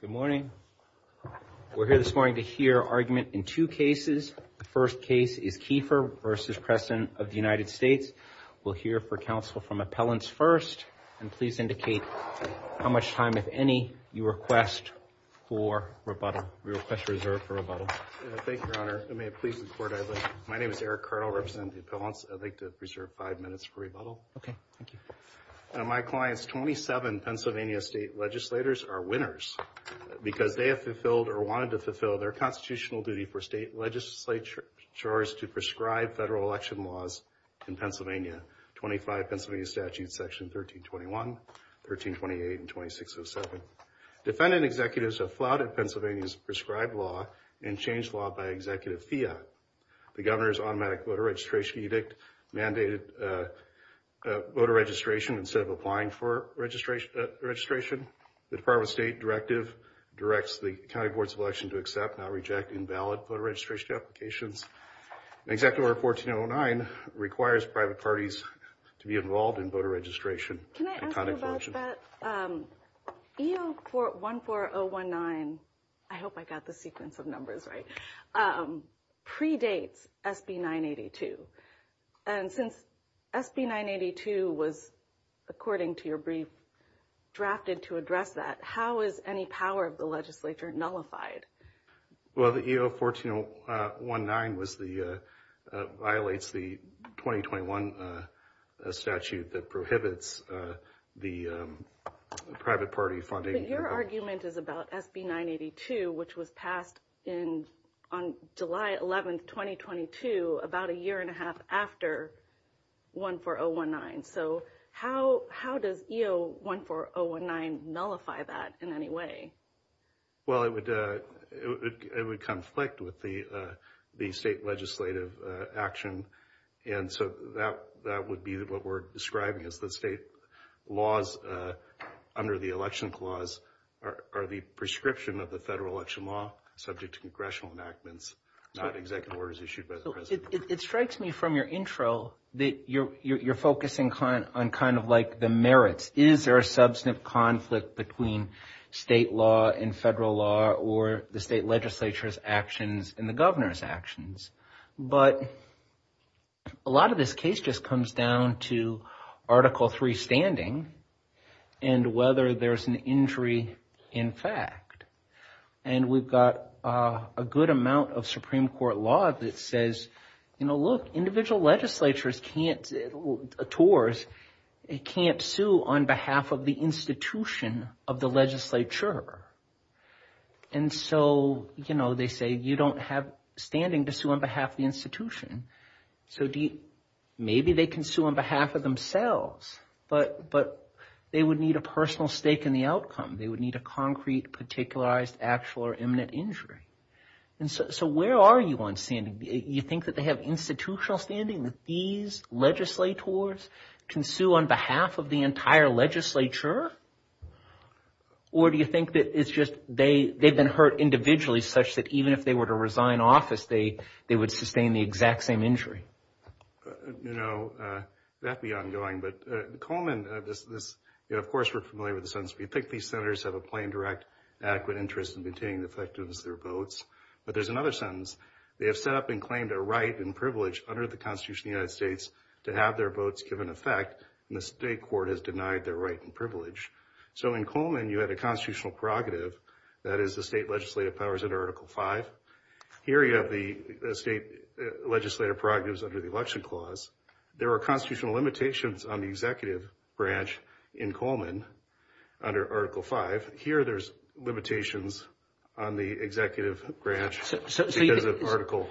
Good morning. We're here this morning to hear argument in two cases. The first case is Keefer v. President of the United States. We'll hear for counsel from appellants first, and please indicate how much time, if any, you request for rebuttal. We request reserve for rebuttal. Thank you, Your Honor. May it please the Court, I'd like, my name is Eric Cardall, representing the appellants. I'd like to reserve five minutes for rebuttal. Okay, thank you. My clients, 27 Pennsylvania state legislators, are winners because they have fulfilled or wanted to fulfill their constitutional duty for state legislatures to prescribe federal election laws in Pennsylvania, 25 Pennsylvania statutes section 1321, 1328, and 2607. Defendant executives have flouted Pennsylvania's prescribed law and changed law by executive fiat. The governor's automatic registration edict mandated voter registration instead of applying for registration. The Department of State directive directs the county boards of election to accept, not reject, invalid voter registration applications. Executive order 1409 requires private parties to be involved in voter registration. Can I ask you about that? EO 14019, I hope I got the sequence of numbers right, predates SB 982. And since SB 982 was, according to your brief, drafted to address that, how is any power of the legislature nullified? Well, the EO 1409 violates the 2021 statute that prohibits the private party funding. But your argument is about SB 982, which was passed on July 11, 2022, about a year and a half after 14019. So how does EO 14019 nullify that in any way? Well, it would conflict with the state legislative action. And so that would be what we're describing as the state laws under the election clause are the prescription of the federal election law subject to congressional enactments, not executive orders issued by the president. It strikes me from your intro that you're focusing on kind of like the merits. Is there a substantive conflict between state law and federal law or the state legislature's actions and the governor's actions? But a lot of this case just comes down to Article III standing and whether there's an injury in fact. And we've got a good amount of Supreme Court law that says, you know, look, individual legislatures can't, TORs, can't sue on behalf of the institution of the legislature. And so, you know, they say you don't have standing to sue on behalf of the institution. So maybe they can sue on behalf of themselves, but they would need a personal stake in the outcome. They would need a concrete, particularized, actual or imminent injury. And so where are you on standing? You think that they have institutional standing that these legislators can sue on behalf of the entire legislature? Or do you think that it's they've been hurt individually such that even if they were to resign office, they would sustain the exact same injury? You know, that'd be ongoing. But Coleman, of course, we're familiar with the sentence. We think these senators have a plain, direct, adequate interest in maintaining the effectiveness of their votes. But there's another sentence. They have set up and claimed a right and privilege under the Constitution of the United States to have their votes given effect. And the that is the state legislative powers under Article 5. Here you have the state legislative prerogatives under the Election Clause. There are constitutional limitations on the executive branch in Coleman under Article 5. Here there's limitations on the executive branch because of Article.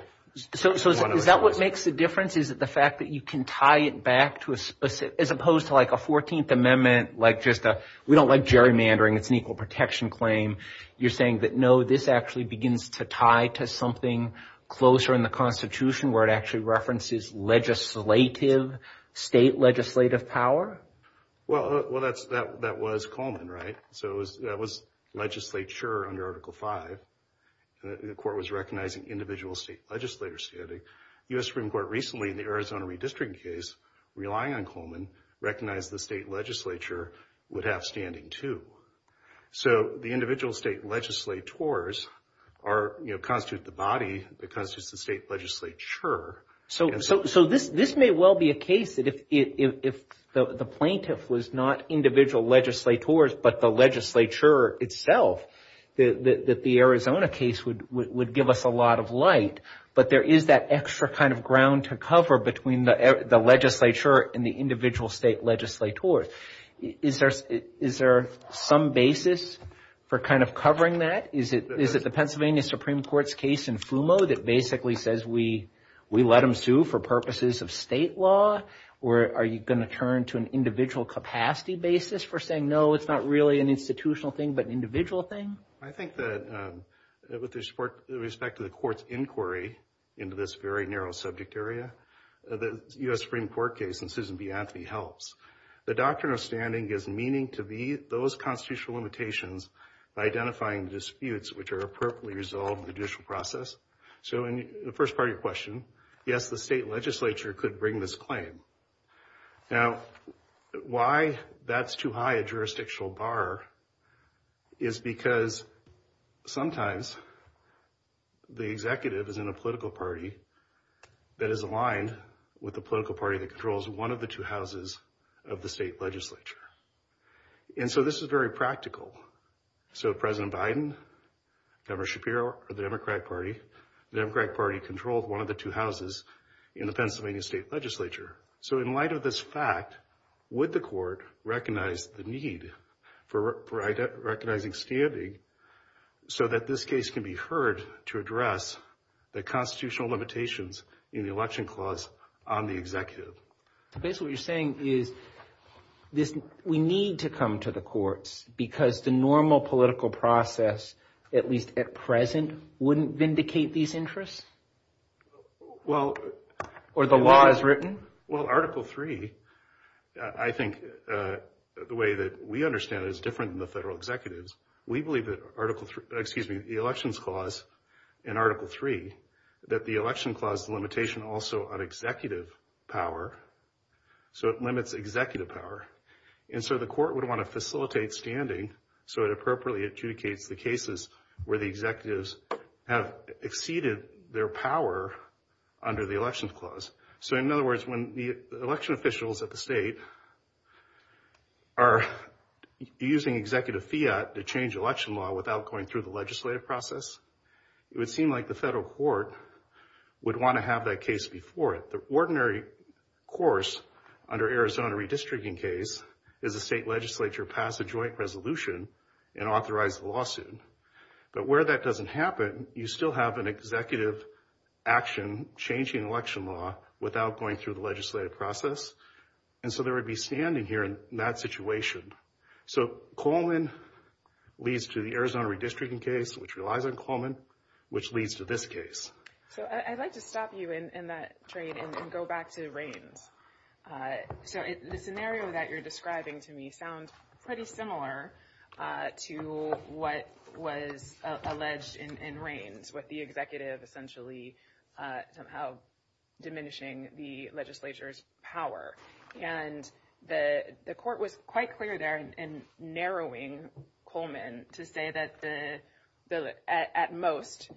So is that what makes the difference? Is it the fact that you can tie it back to a specific, as opposed to like a 14th Amendment, like just a, we don't like gerrymandering, it's an equal protection claim. You're saying that, no, this actually begins to tie to something closer in the Constitution where it actually references legislative, state legislative power? Well, well, that's, that, that was Coleman, right? So it was, that was legislature under Article 5. The court was recognizing individual state legislators standing. U.S. Supreme Court recently in the Arizona redistricting case, relying on Coleman, recognized the state legislature would have standing too. So the individual state legislators are, you know, constitute the body that constitutes the state legislature. So, so, so this, this may well be a case that if, if, if the plaintiff was not individual legislators, but the legislature itself, that, that the Arizona case would, would, would give us a lot of light. But there is that extra kind of ground to cover between the legislature and the individual state legislators. Is there, is there some basis for kind of covering that? Is it, is it the Pennsylvania Supreme Court's case in FUMO that basically says we, we let them sue for purposes of state law? Or are you going to turn to an individual capacity basis for saying, no, it's not really an institutional thing, but an individual thing? I think that with respect to the court's inquiry into this very narrow subject area, the U.S. Supreme Court case in Susan B. Anthony helps. The doctrine of standing gives meaning to be those constitutional limitations by identifying disputes which are appropriately resolved in the judicial process. So in the first part of your question, yes, the state legislature could bring this claim. Now, why that's too high a jurisdictional bar is because sometimes the executive is in a with the political party that controls one of the two houses of the state legislature. And so this is very practical. So President Biden, Governor Shapiro, or the Democratic Party, the Democratic Party controlled one of the two houses in the Pennsylvania state legislature. So in light of this fact, would the court recognize the need for recognizing standing so that this case can be heard to address the constitutional limitations in the election clause on the executive? So basically what you're saying is we need to come to the courts because the normal political process, at least at present, wouldn't vindicate these interests? Well... Or the law is written? Well, Article III, I think the way that we understand it is different than the federal executives. We believe that the elections clause in Article III, that the election clause limitation also on executive power. So it limits executive power. And so the court would want to facilitate standing so it appropriately adjudicates the cases where the executives have exceeded their power under the election clause. So in other words, when the election officials at the state are using executive fiat to change election law without going through the legislative process, it would seem like the federal court would want to have that case before it. The ordinary course under Arizona redistricting case is the state legislature pass a joint resolution and authorize the lawsuit. But where that doesn't happen, you still have an executive action changing election law without going through the legislative process. And so there would be standing here in that situation. So Coleman leads to the Arizona redistricting case, which relies on Coleman, which leads to this case. So I'd like to stop you in that train and go back to Raines. So the scenario that you're describing to me sounds pretty similar to what was alleged in Raines with the executive essentially somehow diminishing the legislature's power. And the court was quite clear there in narrowing Coleman to say that at most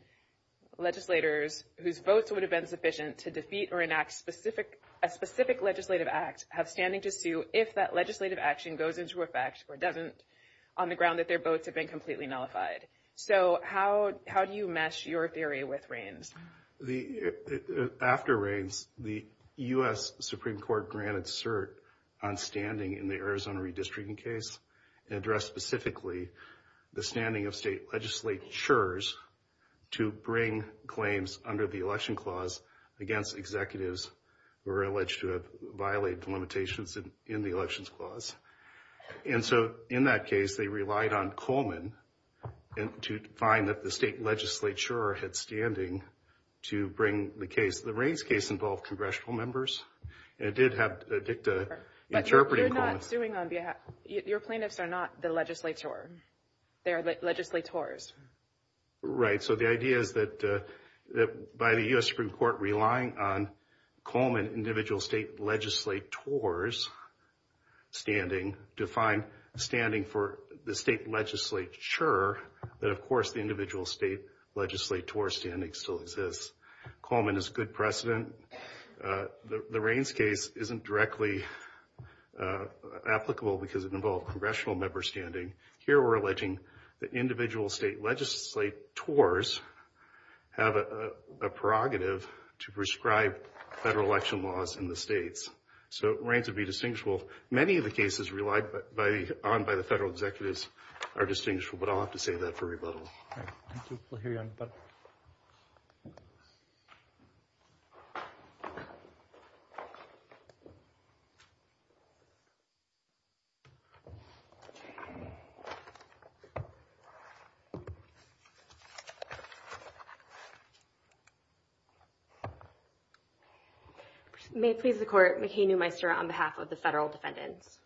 legislators whose votes would have been sufficient to defeat or enact a specific legislative act have standing to sue if that legislative action goes into effect or doesn't on the ground that their votes have been completely nullified. So how do you mesh your theory with Raines? After Raines, the U.S. Supreme Court granted cert on standing in the Arizona redistricting case and addressed specifically the standing of state legislatures to bring claims under the election clause against executives who are alleged to have violated the limitations in the elections clause. And so in that case, they relied on Coleman to find that the state legislature had standing to bring the case. The Raines case involved congressional members. And it did have DICTA interpreting Coleman. But you're not suing on behalf, your plaintiffs are not the legislator. They are legislators. Right. So the idea is that by the U.S. Supreme Court relying on Coleman, individual state legislators standing to find standing for the state legislature, that of course the individual state legislator standing still exists. Coleman is good precedent. The Raines case isn't directly applicable because it involved congressional member standing. Here we're alleging that individual state legislators have a prerogative to prescribe federal election laws in the states. So Raines would be distinguishable. Many of the cases relied on by the federal executives are distinguishable, but I'll have to save that for rebuttal. All right. Thank you. We'll hear you on rebuttal. May it please the court. McKay Newmeister on behalf of the federal defendants.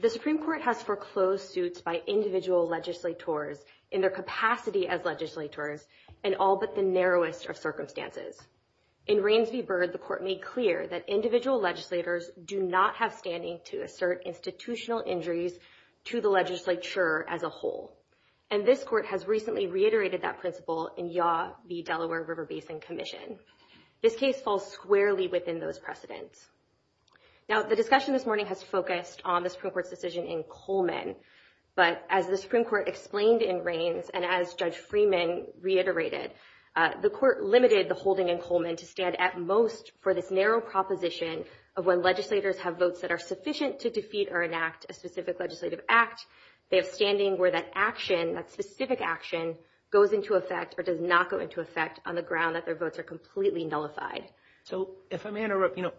The Supreme Court has foreclosed suits by individual legislators in their capacity as legislators and all but the narrowest of circumstances. In Raines v. Byrd, the court made clear that individual legislators do not have standing to assert institutional injuries to the legislature as a whole. And this court has recently reiterated that principle in Yaw v. Delaware River Basin Commission. This case falls squarely within those precedents. Now, the discussion this morning has focused on the Supreme Court's decision in Coleman. But as the Supreme Court explained in Raines, and as Judge Freeman reiterated, the court limited the holding in Coleman to stand at most for this narrow proposition of when legislators have votes that are sufficient to defeat or enact a specific legislative act. They have standing where that action, that specific action, goes into effect or does not go into effect on the ground that their votes are completely nullified. So if I may interrupt, you know,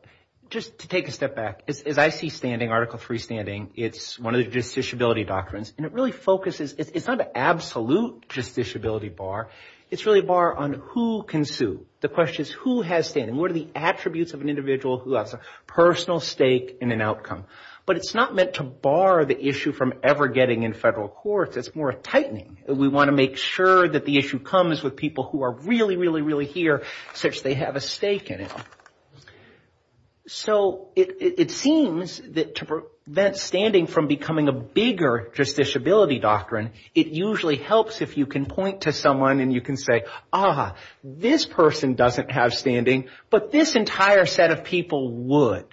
just to take a step back. As I see standing, Article 3 standing, it's one of the justiciability doctrines. And it really focuses, it's not an absolute justiciability bar. It's really a bar on who can sue. The question is who has standing? What are the attributes of an individual who has a personal stake in an outcome? But it's not meant to bar the issue from ever getting in federal courts. It's more a tightening. We want to make sure that the issue comes with people who are really, really, really here, since they have a stake in it. So it seems that to prevent standing from becoming a bigger justiciability doctrine, it usually helps if you can point to someone and you can say, ah, this person doesn't have standing, but this entire set of people would.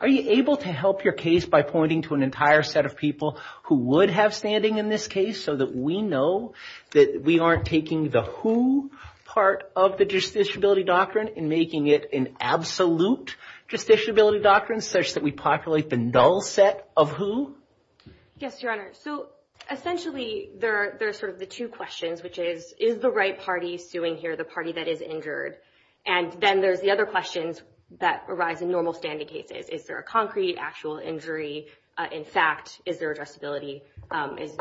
Are you able to help your case by pointing to an entire set of people who would have standing in this case so that we know that we aren't taking the who part of the justiciability doctrine and making it an absolute justiciability doctrine such that we populate the null set of who? Yes, Your Honor. So essentially, there are sort of the two questions, which is, is the right party suing here the party that is injured? And then there's the other questions that arise in normal standing cases. Is there a concrete actual injury? In fact, is there addressability?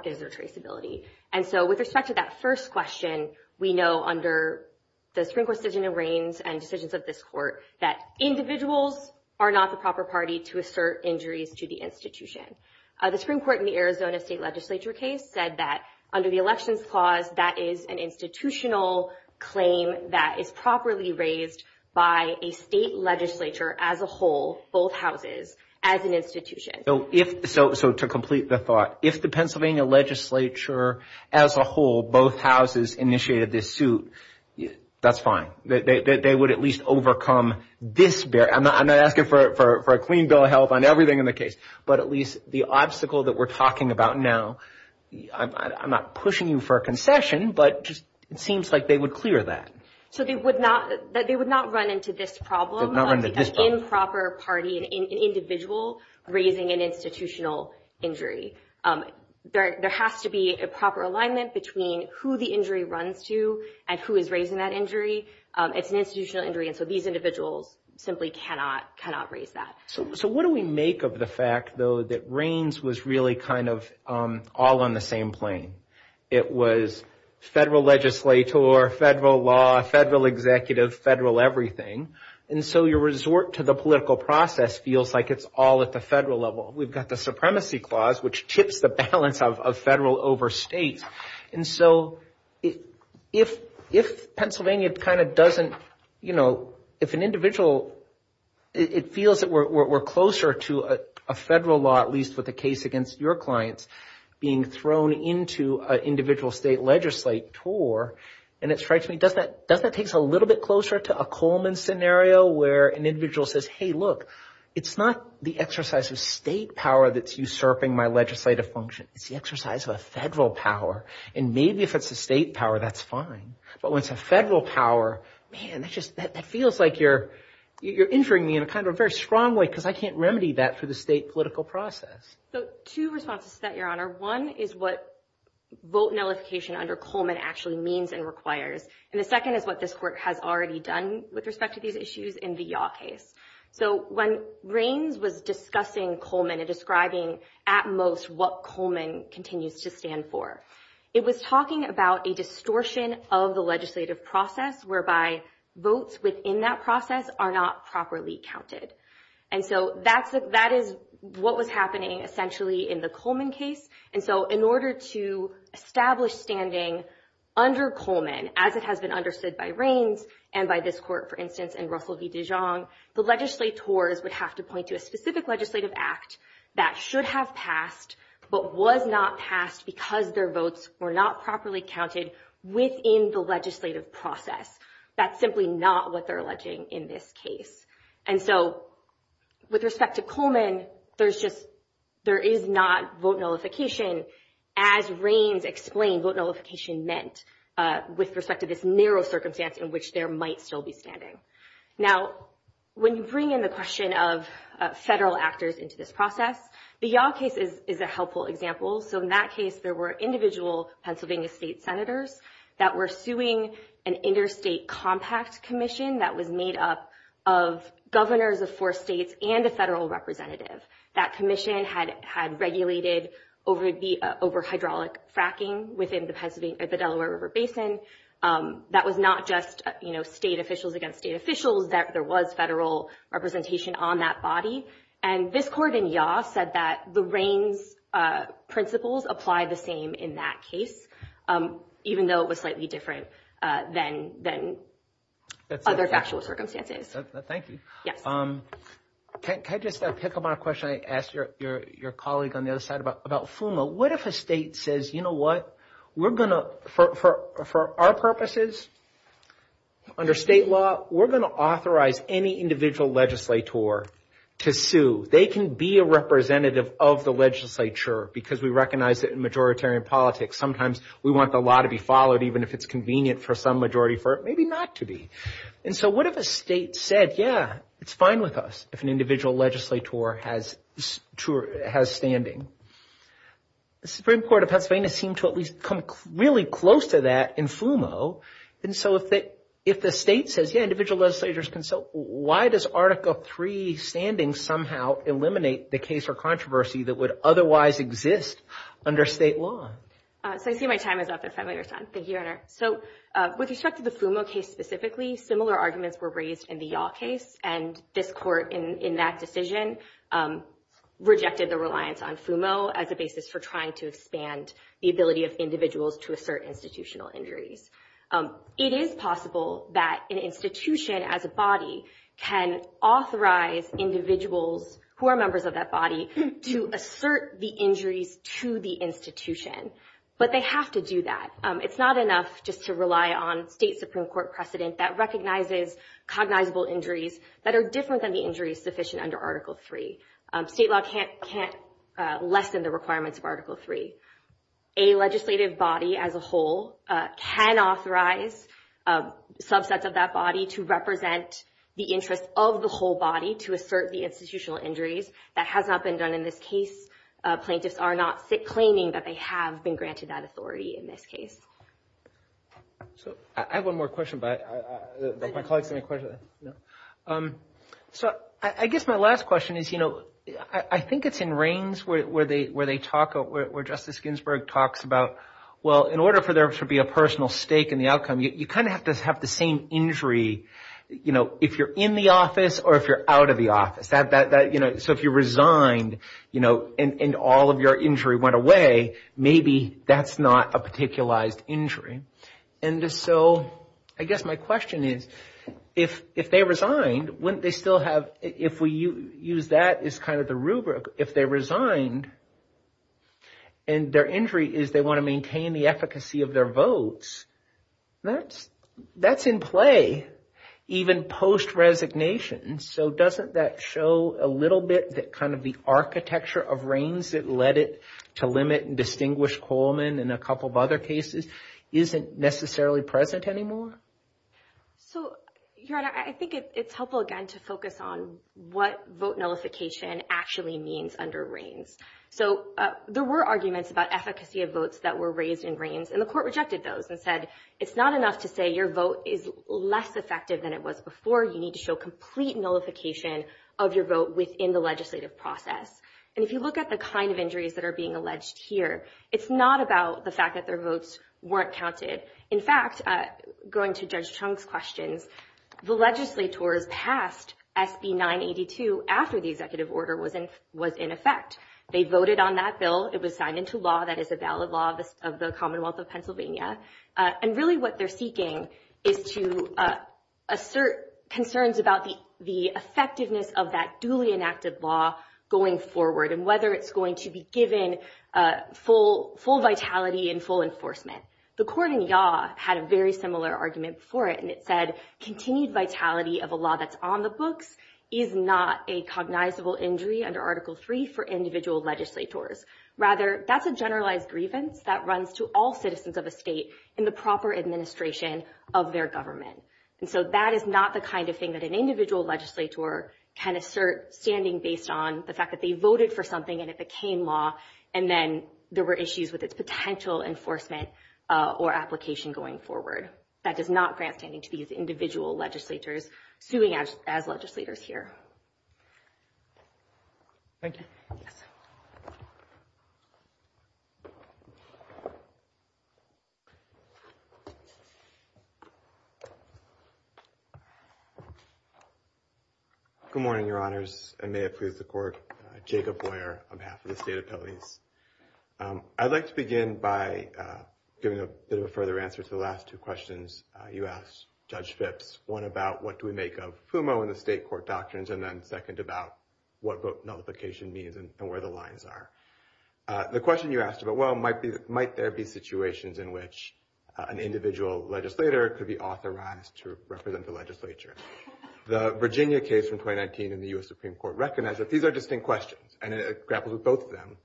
Is there traceability? And so with respect to that first question, we know under the Supreme Court decision in Reins and decisions of this court that individuals are not the proper party to assert injuries to the institution. The Supreme Court in the Arizona State Legislature case said that under the Elections Clause, that is an institutional claim that is properly raised by a state legislature as a whole, both houses, as an institution. So to complete the thought, if the Pennsylvania Legislature as a whole, both houses initiated this suit, that's fine. They would at least overcome this barrier. I'm not asking for a clean bill of health on everything in the case, but at least the obstacle that we're talking about now, I'm not pushing you for a concession, but it seems like they would clear that. So they would not run into this problem of an improper party, an individual raising an institutional injury. There has to be a proper alignment between who the injury runs to and who is raising that injury. It's an institutional injury, and so these individuals simply cannot raise that. So what do we make of the fact, though, that Reins was really kind of all on the same plane? It was federal legislator, federal law, federal executive, federal everything. And so your resort to the political process feels like it's all at the federal level. We've got the Supremacy Clause, which tips the balance of federal over state. And so if Pennsylvania kind of doesn't, you know, if an individual, it feels that we're closer to a federal law, at least with the case against your clients, being thrown into an individual state legislator, and it strikes me, does that takes a little bit closer to a Coleman scenario where an individual says, hey, look, it's not the exercise of state power that's usurping my legislative function. It's the exercise of a federal power. And maybe if it's a state power, that's fine. But when it's a federal power, man, that just feels like you're injuring me in a kind of a very strong way, because I can't remedy that for the state political process. So two responses to that, actually means and requires. And the second is what this court has already done with respect to these issues in the Yaw case. So when Raines was discussing Coleman and describing at most what Coleman continues to stand for, it was talking about a distortion of the legislative process, whereby votes within that process are not properly counted. And so that is what was happening essentially in the Coleman case. And so in order to establish standing under Coleman, as it has been understood by Raines, and by this court, for instance, and Russell v. Dijon, the legislators would have to point to a specific legislative act that should have passed, but was not passed because their votes were not properly counted within the legislative process. That's simply not what they're alleging in this case. And so with respect to Coleman, there's just, there is not vote nullification, as Raines explained, vote nullification meant with respect to this narrow circumstance in which there might still be standing. Now, when you bring in the question of federal actors into this process, the Yaw case is a helpful example. So in that case, there were individual Pennsylvania state senators that were suing an interstate compact commission that was made up of governors of four states and a federal representative. That commission had regulated over hydraulic fracking within the Delaware River Basin. That was not just state officials against state officials, there was federal representation on that body. And this court in Yaw said that the Raines principles apply the same in that case, even though it was slightly different than other factual circumstances. Thank you. Can I just pick up on a question I asked your colleague on the other side about FUMA? What if a state says, you know what, we're going to, for our purposes, under state law, we're going to authorize any individual legislator to sue. They can be a representative of the legislature because we recognize that in majoritarian politics, sometimes we want the law to be followed, even if it's convenient for some majority for it maybe not to And so what if a state said, yeah, it's fine with us if an individual legislator has standing? The Supreme Court of Pennsylvania seemed to at least come really close to that in FUMO. And so if the state says, yeah, individual legislators can sue, why does Article III standing somehow eliminate the case or controversy that would otherwise exist under state law? So I see my time is up at five minutes. Thank you, Your Honor. So with respect to the FUMO case specifically, similar arguments were raised in the Yaw case. And this court in that decision rejected the reliance on FUMO as a basis for trying to expand the ability of individuals to assert institutional injuries. It is possible that an institution as a body can authorize individuals who are members of that body to assert the injuries to the institution. But they have to do that. It's not enough just to rely on state Supreme Court precedent that recognizes cognizable injuries that are different than the injuries sufficient under Article III. State law can't lessen the requirements of Article III. A legislative body as a whole can authorize subsets of that body to represent the interests of the whole body to assert the institutional injuries that have been granted that authority in this case. So I have one more question, but my colleague is going to question. So I guess my last question is, you know, I think it's in Reins where Justice Ginsburg talks about, well, in order for there to be a personal stake in the outcome, you kind of have to have the same injury, you know, if you're in the office or if you're out of the office. So if you resigned, you know, and all of your injury went away, maybe that's not a particularized injury. And so I guess my question is, if they resigned, wouldn't they still have, if we use that as kind of the rubric, if they resigned and their injury is they want to maintain the efficacy of their votes, that's in play even post-resignation. So doesn't that show a little bit that kind of the architecture of Reins that led it to limit and distinguish Coleman and a couple of other cases isn't necessarily present anymore? So, Your Honor, I think it's helpful again to focus on what vote nullification actually means under Reins. So there were arguments about efficacy of votes that were raised in Reins and the court rejected those and said, it's not enough to say your vote is less effective than it was before. You need to show complete nullification of your vote within the legislative process. And if you look at the kind of injuries that are being alleged here, it's not about the fact that their votes weren't counted. In fact, going to Judge Chung's questions, the legislators passed SB 982 after the executive order was in effect. They voted on that bill. It was signed into law. That is a valid law of the Commonwealth of Pennsylvania. And really what they're seeking is to assert concerns about the effectiveness of that duly enacted law going forward and whether it's going to be given full vitality and full enforcement. The court in Yaw had a very similar argument for it, and it said continued vitality of a law that's on the books is not a cognizable injury under Article III for individual legislators. Rather, that's a generalized grievance that runs to all citizens of a state in the proper administration of their government. And so that is not the kind of thing that an individual legislator can assert standing based on the fact that they voted for something and it became law and then there were issues with its potential enforcement or application going forward. That does not grant standing to these individual legislators suing as legislators here. Thank you. Good morning, your honors, and may it please the court. Jacob Boyer on behalf of the state appellees. I'd like to begin by giving a bit of a further answer to the last two questions you asked Judge Phipps. One about what do we make of FUMO in the state court doctrines and then second about what vote nullification means and where the lines are. The question you asked about, well, might there be situations in which an individual legislator could be authorized to represent the legislature? The Virginia case from 2019 in the U.S. Supreme Court recognized that these are distinct questions and it grapples with both of them.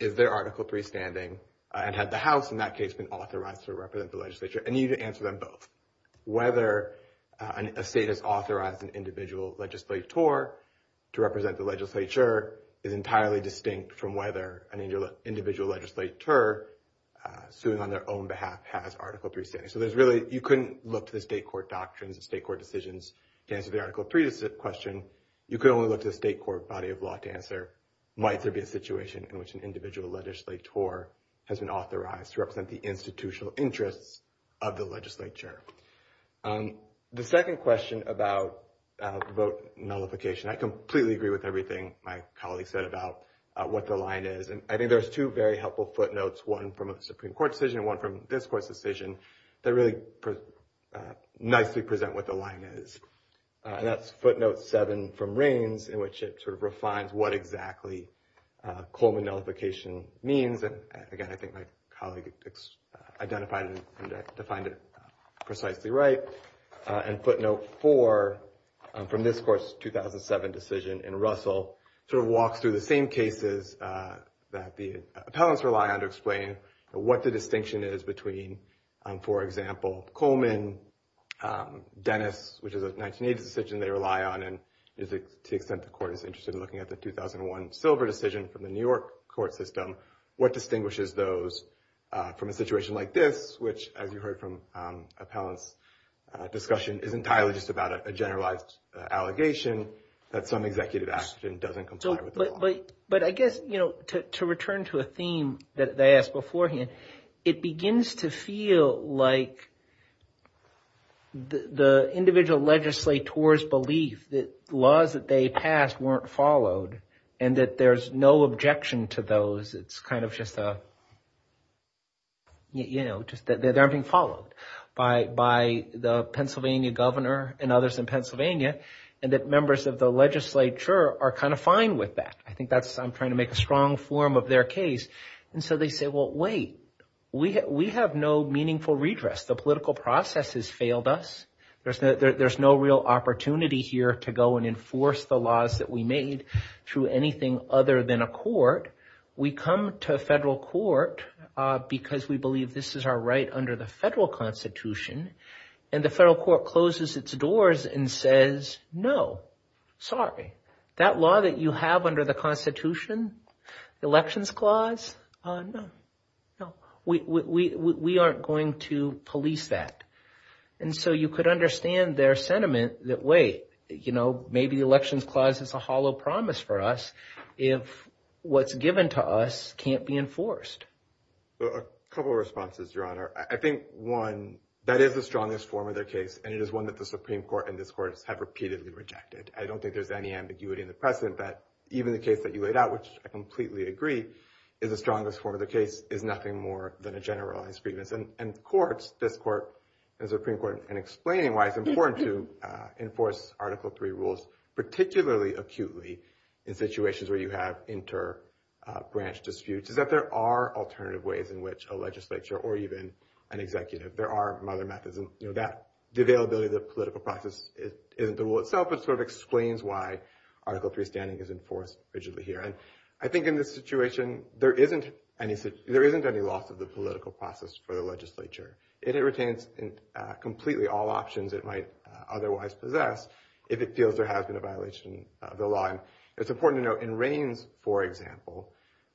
Is there Article III standing and had the House in that case been authorized to represent the legislature? And you need to answer them both. Whether a state has authorized an individual legislator to represent the legislature is entirely distinct from whether an individual legislator suing on their own behalf has Article III standing. So there's really, you couldn't look to the state court doctrines and state court decisions to answer the Article III question. You could only look to the state court body of law to answer might there be a situation in which an individual legislator has been authorized to institutional interests of the legislature. The second question about vote nullification, I completely agree with everything my colleague said about what the line is. And I think there's two very helpful footnotes, one from a Supreme Court decision and one from this court's decision that really nicely present what the line is. And that's footnote seven from Raines in which it refines what exactly Coleman nullification means. And again, I think my colleague identified and defined it precisely right. And footnote four from this court's 2007 decision in Russell, sort of walks through the same cases that the appellants rely on to explain what the distinction is between, for example, Coleman, Dennis, which is a 1980s decision they rely on and to the extent the court is interested in looking at the 2001 silver decision from the New York court system, what distinguishes those from a situation like this, which as you heard from appellants, discussion is entirely just about a generalized allegation that some executive action doesn't comply with the law. But I guess, you know, to return to a theme that they asked beforehand, it begins to feel like the individual legislator's belief that laws that they passed weren't followed and that there's no objection to those. It's kind of just a, you know, just that they're being followed by the Pennsylvania governor and others in Pennsylvania and that members of the legislature are kind of fine with that. I think that's, I'm trying to make a strong form of their case. And so they say, well, wait, we have no meaningful redress. The political process has failed us. There's no real opportunity here to go and enforce the laws that we made through anything other than a court. We come to a federal court because we believe this is our right under the federal constitution. And the federal court closes its doors and says, no, sorry, that law that you have under the constitution, the elections clause, no, no, we aren't going to police that. And so you could understand their sentiment that, wait, you know, maybe the elections clause is a hollow promise for us if what's given to us can't be enforced. A couple of responses, Your Honor. I think, one, that is the strongest form of their case. And it is one that the Supreme Court and this court have repeatedly rejected. I don't think there's any ambiguity in the precedent that even the case that you laid out, which I completely agree is the strongest form of the case, is nothing more than a generalized grievance. And courts, this court, the Supreme Court, in explaining why it's important to enforce Article III rules, particularly acutely in situations where you have inter-branch disputes, is that there are alternative ways in which a legislature or even an executive, there are other methods. And, you know, the availability of the political process isn't the rule itself. It sort of explains why Article III standing is enforced rigidly here. And I think in this situation, there isn't any loss of the political process for the legislature. It retains completely all options it might otherwise possess if it feels there has been a violation of the law. And it's important to note, in Raines, for example,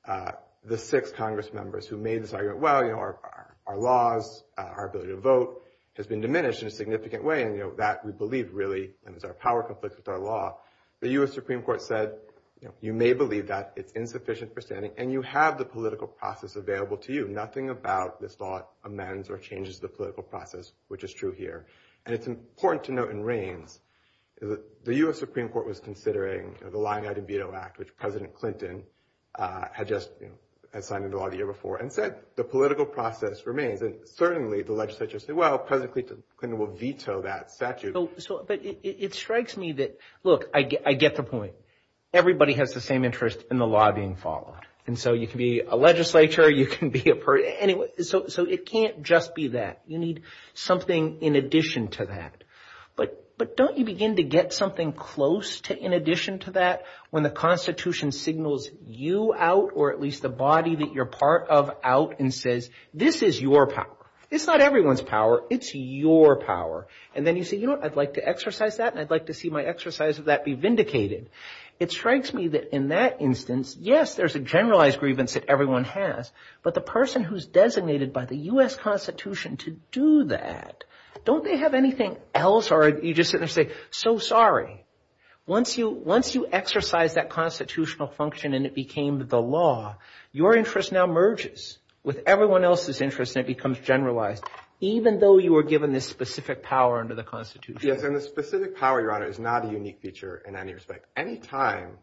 the six Congress members who made the argument, well, you know, our laws, our ability to vote has been diminished in a significant way. And, you know, that we believe really is our power conflict with our law. The U.S. Supreme Court said, you know, you may believe that it's insufficient for standing and you have the political process available to you. Nothing about this law amends or changes the political process, which is true here. And it's important to note in Raines, the U.S. Supreme Court was considering the Lying-Eyed and Veto Act, which President Clinton had just signed into law the year before, and said the political process remains. And certainly the legislature said, well, President Clinton will veto that statute. So, but it strikes me that, look, I get the point. Everybody has the same interest in the law being followed. And so you can be a legislature, you can be a person. So it can't just be that. You need something in addition to that. But don't you begin to get something close to in addition to that when the Constitution signals you out or at least the body that you're part of out and says, this is your power. It's not everyone's power. It's your power. And then you say, you know, I'd like to exercise that and I'd like to see my exercise of that be vindicated. It strikes me that in that instance, yes, there's a generalized grievance that everyone has. But the person who's designated by the U.S. Constitution to do that, don't they have anything else? Or you just sit there and say, so sorry. Once you exercise that constitutional function and it became the law, your interest now merges with everyone else's interest and it becomes generalized, even though you were given this specific power under the Constitution. Yes. And the specific power, Your Honor, is not a unique feature in any respect. Anytime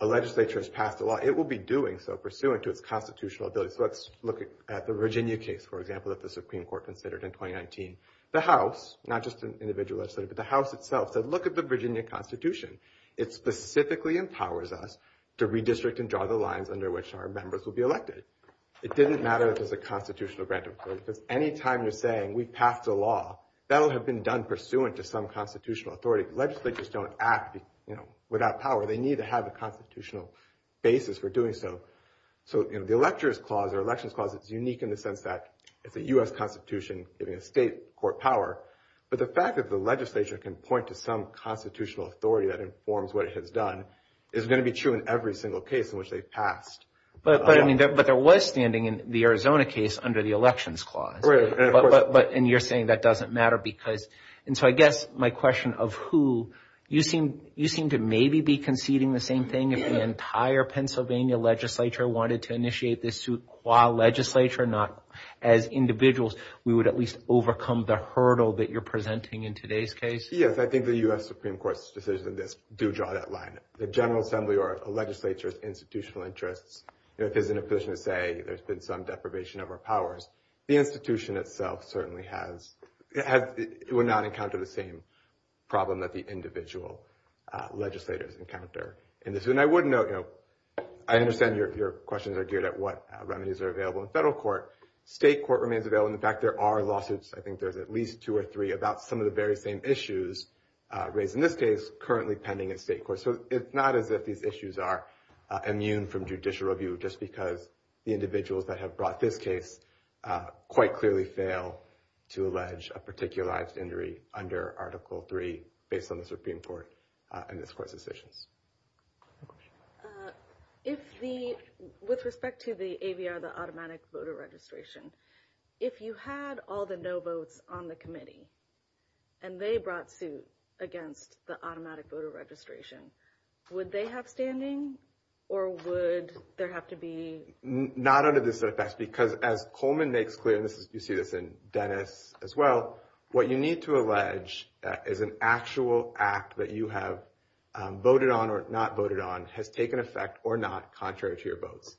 a legislature has passed a law, it will be doing so pursuant to its constitutional ability. So let's look at the Virginia case, for example, that the Supreme Court considered in 2019. The House, not just an individual legislator, but the House itself said, look at the Virginia Constitution. It specifically empowers us to redistrict and draw the lines under which our members will be elected. It didn't matter if it was a constitutional grant. Because anytime you're saying we passed a law, that'll have been done pursuant to some constitutional authority. Legislators don't act without power. They need to have a constitutional basis for doing so. So the Elector's Clause or Elections Clause is unique in the sense that it's a U.S. Constitution giving a state court power. But the fact that the legislature can point to some constitutional authority that informs what it has done is going to be true in every single case in which they've passed. But there was standing in the Arizona case under the Elections Clause. And you're saying that doesn't matter because, and so I guess my question of who, you seem to maybe be conceding the same thing. If the entire Pennsylvania legislature wanted to initiate this suit qua legislature, not as individuals, we would at least overcome the hurdle that you're presenting in today's case? Yes, I think the U.S. Supreme Court's decisions on this do draw that line. The General Assembly or a legislature's institutional interests, if it's in a position to say there's been some deprivation of our powers, the institution itself certainly has, would not encounter the same problem that the individual legislators encounter in this. And I would note, I understand your questions are geared at what remedies are available in federal court. State court remains available. In fact, there are lawsuits, I think there's at least two or three, about some of the very same issues raised in this case currently pending in state court. So it's not as if these issues are immune from judicial review just because the individuals that have brought this case quite clearly fail to allege a particularized injury under Article III based on the Supreme Court and this court's decisions. If the, with respect to the AVR, the Automatic Voter Registration, if you had all the no votes on the committee and they brought suit against the Automatic Voter Registration, would they have standing or would there have to be? Not under this effect because as Coleman makes clear, and you see this in Dennis as well, what you need to allege is an actual act that you have voted on or not voted on has taken effect or not contrary to your votes.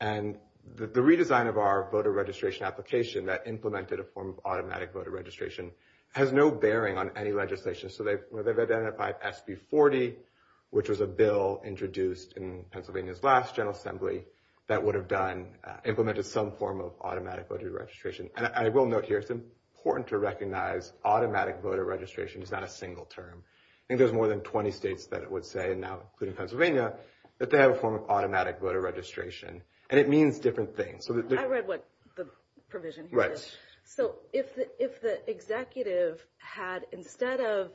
And the redesign of our voter registration application that implemented a form of Automatic Voter Registration has no bearing on any legislation. So they've identified SB 40, which was a bill introduced in Pennsylvania's last General Assembly that would have done, implemented some form of Automatic Voter Registration. And I will note here, it's important to recognize Automatic Voter Registration is not a single term. I think there's more than 20 states that it would say, and now including Pennsylvania, that they have a form of Automatic Voter Registration. And it means different things. I read what the provision is. So if the executive had, instead of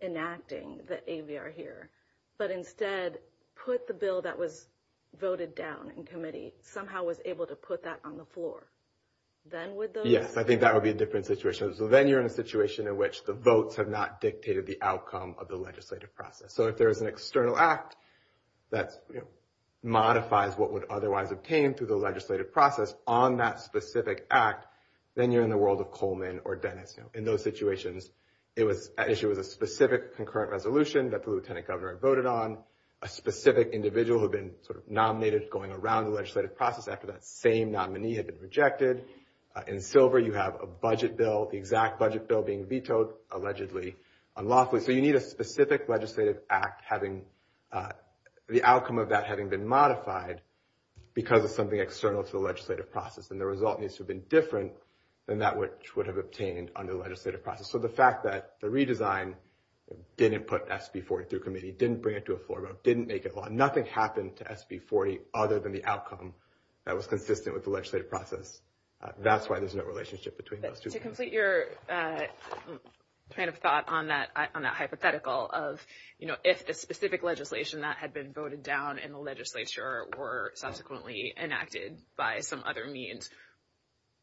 enacting the AVR here, but instead put the bill that was voted down in committee, somehow was able to put that on the floor, then would those? Yes, I think that would be a different situation. So then you're in a situation in which the votes have not dictated the outcome of the legislative process. So if there is an external act that modifies what would otherwise obtain through the legislative process on that specific act, then you're in the world of Coleman or Dennis. In those situations, it was an issue with a specific concurrent resolution that the Lieutenant Governor voted on, a specific individual who had been sort of nominated going around the legislative process after that same nominee had been rejected. In Silver, you have a budget bill, the exact budget bill being vetoed, allegedly unlawfully. So you need a specific legislative act, the outcome of that having been modified because of something external to the legislative process. And the result needs to have been different than that which would have obtained under the legislative process. So the fact that the redesign didn't put SB 40 through committee, didn't bring it to a floor vote, didn't make it law, nothing happened to SB 40 other than the outcome that was consistent with the legislative process. That's why there's no relationship between those two. To complete your kind of thought on that hypothetical of, you know, if the specific legislation that had been voted down in the legislature were subsequently enacted by some other means,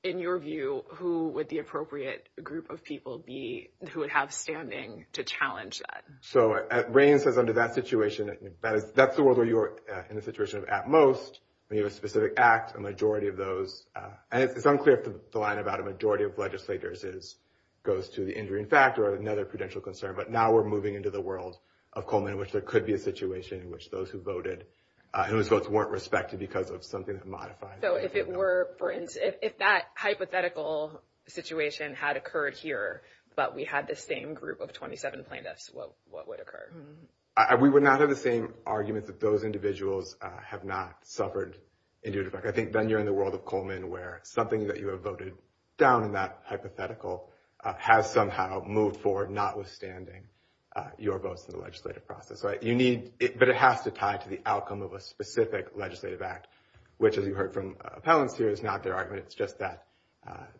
in your view, who would the appropriate group of people be who would have standing to challenge that? So Rain says under that situation, that's the world where you're in the situation of at most when you have a specific act, a majority of those, and it's unclear if the line about a majority of legislators is, goes to the injury in fact or another prudential concern, but now we're moving into the world of Coleman in which there could be a situation in which those who voted, whose votes weren't respected because of something that modified. So if it were, for instance, if that hypothetical situation had occurred here, but we had the same group of 27 plaintiffs, what would occur? We would not have the same arguments that those individuals have not suffered. I think then you're in the world of Coleman where something that you have voted down in that hypothetical has somehow moved forward, notwithstanding your votes in the legislative process, right? You need it, but it has to tie to the outcome of a specific legislative act, which as you heard from appellants here is not their argument. It's just that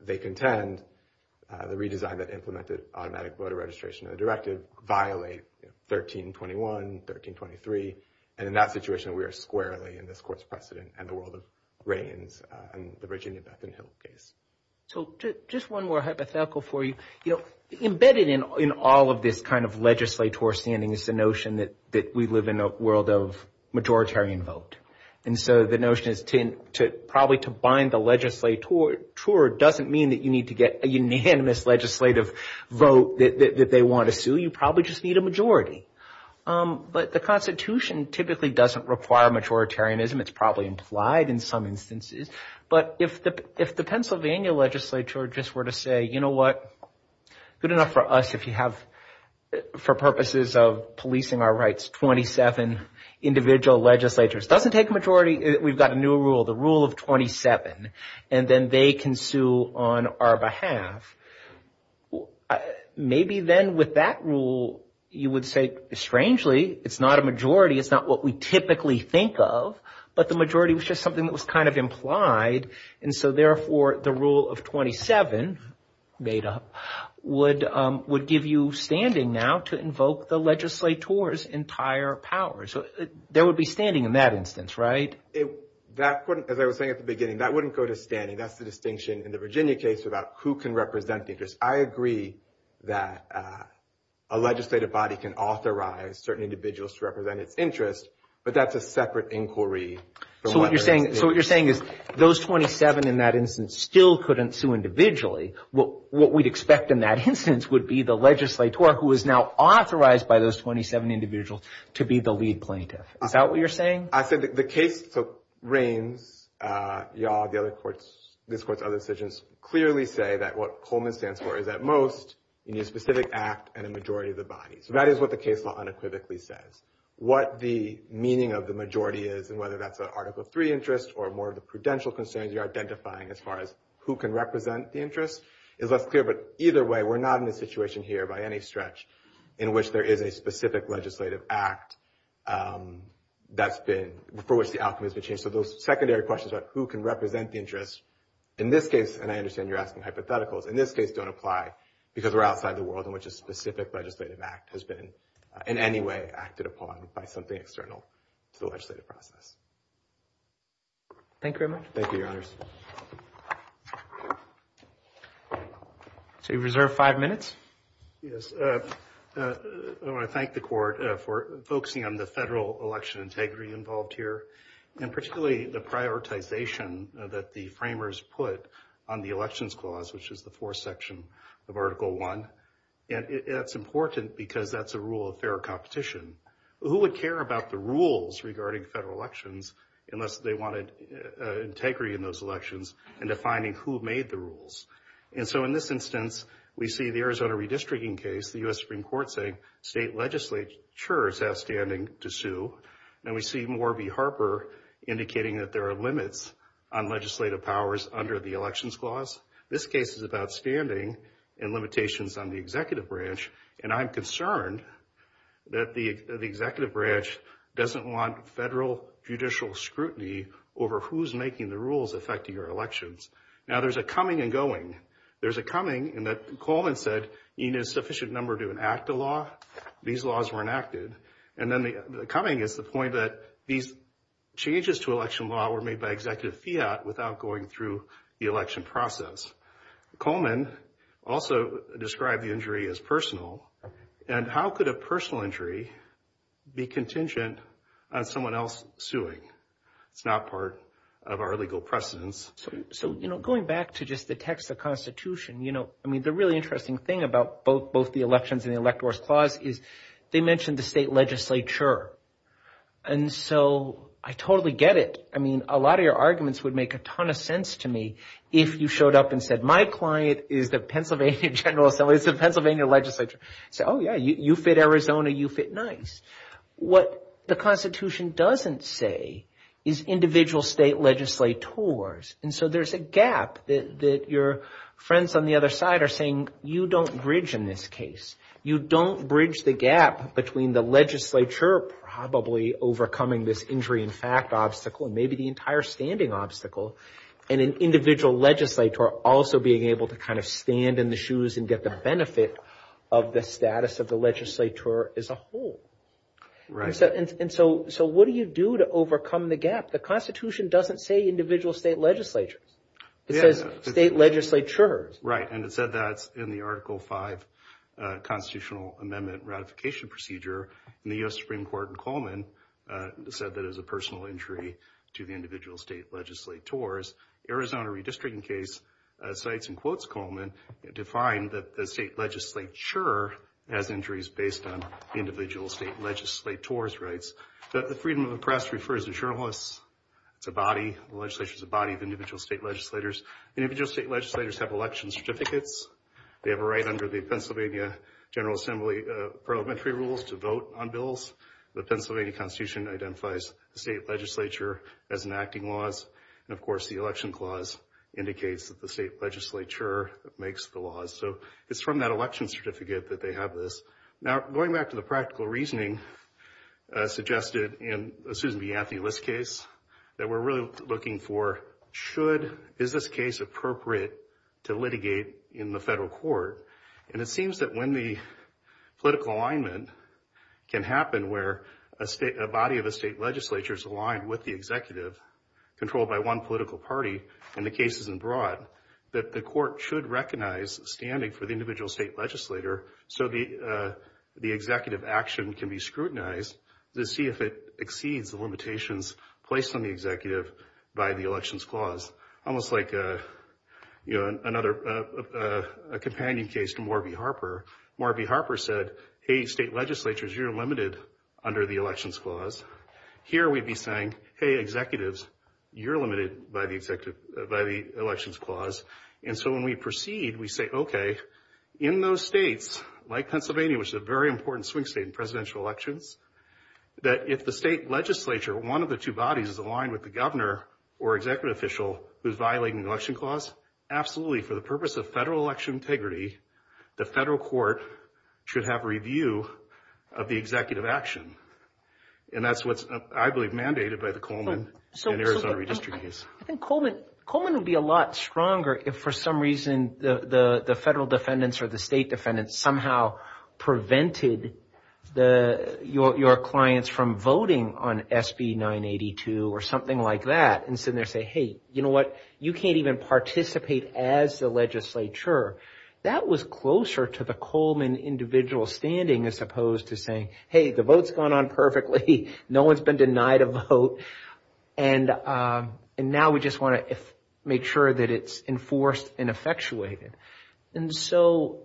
they contend the redesign that implemented automatic voter registration of the directive violate 1321, 1323, and in that situation, we are squarely in this court's precedent and the world reigns in the Virginia Bethune-Hill case. So just one more hypothetical for you, you know, embedded in all of this kind of legislator standing is the notion that we live in a world of majoritarian vote, and so the notion is to probably to bind the legislature doesn't mean that you need to get a unanimous legislative vote that they want to sue. You probably just need a majority, but the Constitution typically doesn't require majoritarianism. It's probably implied in some instances, but if the Pennsylvania legislature just were to say, you know what, good enough for us if you have, for purposes of policing our rights, 27 individual legislatures, doesn't take a majority, we've got a new rule, the rule of 27, and then they can sue on our behalf. Maybe then with that rule, you would say, strangely, it's not a majority, it's not what we typically think of, but the majority was just something that was kind of implied, and so therefore, the rule of 27 made up would give you standing now to invoke the legislator's entire power. So there would be standing in that instance, right? That wouldn't, as I was saying at the beginning, that wouldn't go to standing. That's the distinction in the Virginia case about who can represent the interest. I agree that a legislative body can authorize certain individuals to represent its interest, but that's a separate inquiry. So what you're saying, so what you're saying is those 27 in that instance still couldn't sue individually. What we'd expect in that instance would be the legislator who is now authorized by those 27 individuals to be the lead plaintiff. Is that what you're saying? I said the case reigns. Y'all, the other courts, this court's other decisions, clearly say that what Coleman stands for is at most a new specific act and a majority of the body. So that is what the case law unequivocally says. What the meaning of the majority is and whether that's an Article 3 interest or more of the prudential concerns you're identifying as far as who can represent the interest is less clear, but either way, we're not in a situation here by any stretch in which there is a specific legislative act that's been, for which the outcome has been changed. So those secondary questions about who can represent the interest in this case, and I understand you're asking hypotheticals, in this case don't apply because we're outside the world in which a specific legislative act has been in any way acted upon by something external to the legislative process. Thank you very much. Thank you, Your Honors. So you reserve five minutes. Yes, I want to thank the court for focusing on the federal election integrity involved here and particularly the prioritization that the framers put on the elections clause, which is the fourth section of Article 1, and it's important because that's a rule of fair competition. Who would care about the rules regarding federal elections unless they had integrity in those elections and defining who made the rules? And so in this instance, we see the Arizona redistricting case, the U.S. Supreme Court saying state legislatures have standing to sue, and we see Morby Harper indicating that there are limits on legislative powers under the elections clause. This case is about standing and limitations on the executive branch, and I'm concerned that the executive branch doesn't want federal judicial scrutiny over who's making the rules affecting our elections. Now there's a coming and going. There's a coming in that Coleman said you need a sufficient number to enact a law. These laws were enacted, and then the coming is the point that these changes to election law were made by Executive Fiat without going through the election process. Coleman also described the injury as personal, and how could a personal injury be contingent on someone else suing? It's not part of our legal precedence. So, you know, going back to just the text of the Constitution, you know, I mean, the really interesting thing about both the elections and the electors clause is they mentioned the state legislature, and so I totally get it. I mean, a lot of your arguments would make a ton of sense to me if you showed up and said my client is the Pennsylvania General Assembly, it's the Pennsylvania legislature. So, oh yeah, you fit Arizona, you fit nice. What the Constitution doesn't say is individual state legislators, and so there's a gap that your friends on the other side are saying you don't bridge in this case. You don't bridge the gap between the legislature probably overcoming this injury in fact obstacle, and maybe the entire standing obstacle, and an individual legislator also being able to kind of stand in the shoes and get the benefit of the status of the legislator as a whole. And so what do you do to overcome the gap? The Constitution doesn't say individual state legislatures. It says state legislatures. Right, and it said that in the Article V Constitutional Amendment Ratification Procedure, and the U.S. Supreme Court in Coleman said that it was a personal injury to the individual state legislators. Arizona redistricting case cites and quotes Coleman to find that the state legislature has injuries based on individual state legislator's rights. The Freedom of the Press refers to journalists. It's a body, the legislature is a body of individual state legislators. Individual state legislators have election certificates. They have a right under the Pennsylvania General Assembly parliamentary rules to vote on bills. The Pennsylvania Constitution identifies the state legislature as enacting laws, and of course the Election Clause indicates that the state legislature makes the laws. So it's from that election certificate that they have this. Now going back to the practical reasoning suggested in the Susan B. Anthony List case, that we're really looking for should, is this case appropriate to litigate in the federal court? And it seems that when the political alignment can happen where a state, a body of a state legislature is aligned with the executive, controlled by one political party, and the case isn't broad, that the court should recognize standing for the individual state legislator, so the executive action can be scrutinized to see if it exceeds the limitations placed on the case to Morby Harper. Morby Harper said, hey state legislatures, you're limited under the Elections Clause. Here we'd be saying, hey executives, you're limited by the Elections Clause. And so when we proceed, we say, okay, in those states like Pennsylvania, which is a very important swing state in presidential elections, that if the state legislature, one of the two bodies, is aligned with the governor or executive official who's violating the Election Clause, absolutely, for the purpose of federal election integrity, the federal court should have review of the executive action. And that's what's, I believe, mandated by the Coleman and Arizona redistricting case. I think Coleman would be a lot stronger if, for some reason, the federal defendants or the state defendants somehow prevented your clients from voting on SB 982 or something like that and sitting there saying, hey, you know what, you can't even participate as the legislature. That was closer to the Coleman individual standing as opposed to saying, hey, the vote's gone on perfectly, no one's been denied a vote, and now we just want to make sure that it's enforced and effectuated. And so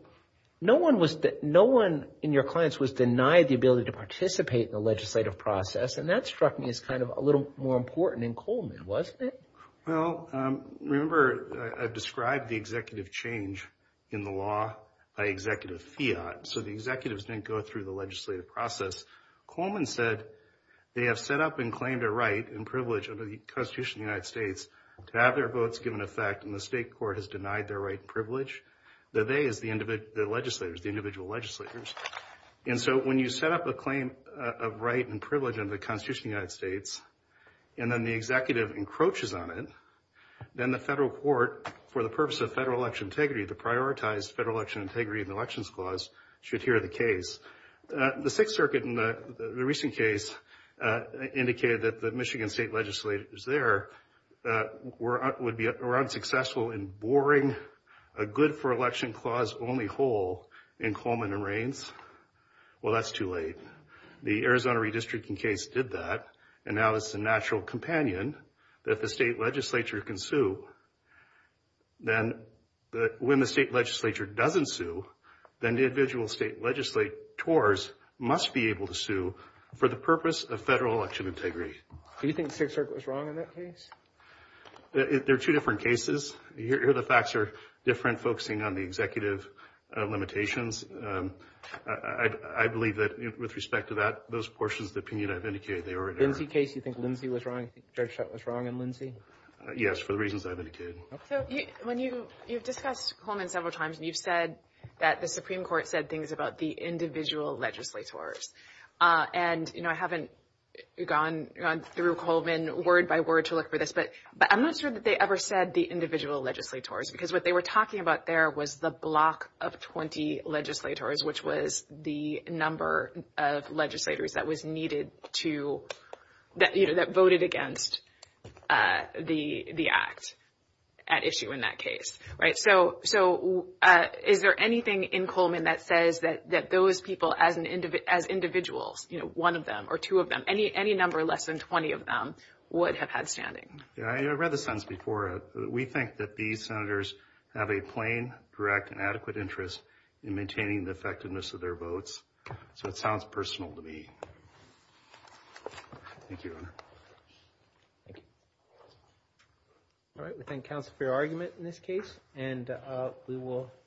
no one in your clients was denied the ability to participate in the legislative process. And that struck me as kind of a little more important in Coleman, wasn't it? Well, remember, I've described the executive change in the law by Executive Fiat. So the executives didn't go through the legislative process. Coleman said they have set up and claimed a right and privilege under the Constitution of the United States to have their votes given effect, and the state court has denied their right and privilege. The they is the individual legislators. And so when you set up a claim of right and privilege under the Constitution of the United States and then the executive encroaches on it, then the federal court, for the purpose of federal election integrity, to prioritize federal election integrity in the Elections Clause, should hear the case. The Sixth Circuit in the recent case indicated that the Michigan state legislators there would be unsuccessful in boring a good-for-election-clause-only hole in Coleman and Raines. Well, that's too late. The Arizona redistricting case did that, and now it's a natural companion that the state legislature can sue. Then when the state legislature doesn't sue, then the individual state legislators must be able to sue for the purpose of federal election integrity. Do you think the Sixth Circuit was wrong in that case? There are two different cases. Here the facts are different, focusing on the executive limitations. I believe that with respect to that, those portions of the opinion I've indicated, they were in error. Lindsay case, you think Lindsay was wrong? Judge Schott was wrong in Lindsay? Yes, for the reasons I've indicated. So when you, you've discussed Coleman several times, and you've said that the Supreme Court said things about the individual legislators. And, you know, I haven't gone through Coleman word by word to look for this, but I'm not sure that they ever said the individual legislators, because what they were talking about there was the block of 20 legislators, which was the number of legislators that was needed to, that, you know, that voted against the act at issue in that case, right? So is there anything in Coleman that says that those people as individuals, you know, one of them or two of them, any number less than 20 of them would have had standing? Yeah, I read the sentence before. We think that these senators have a plain, direct, and adequate interest in maintaining the effectiveness of their votes. So it sounds personal to me. Thank you. All right. We thank counsel for your argument in this case, and we will.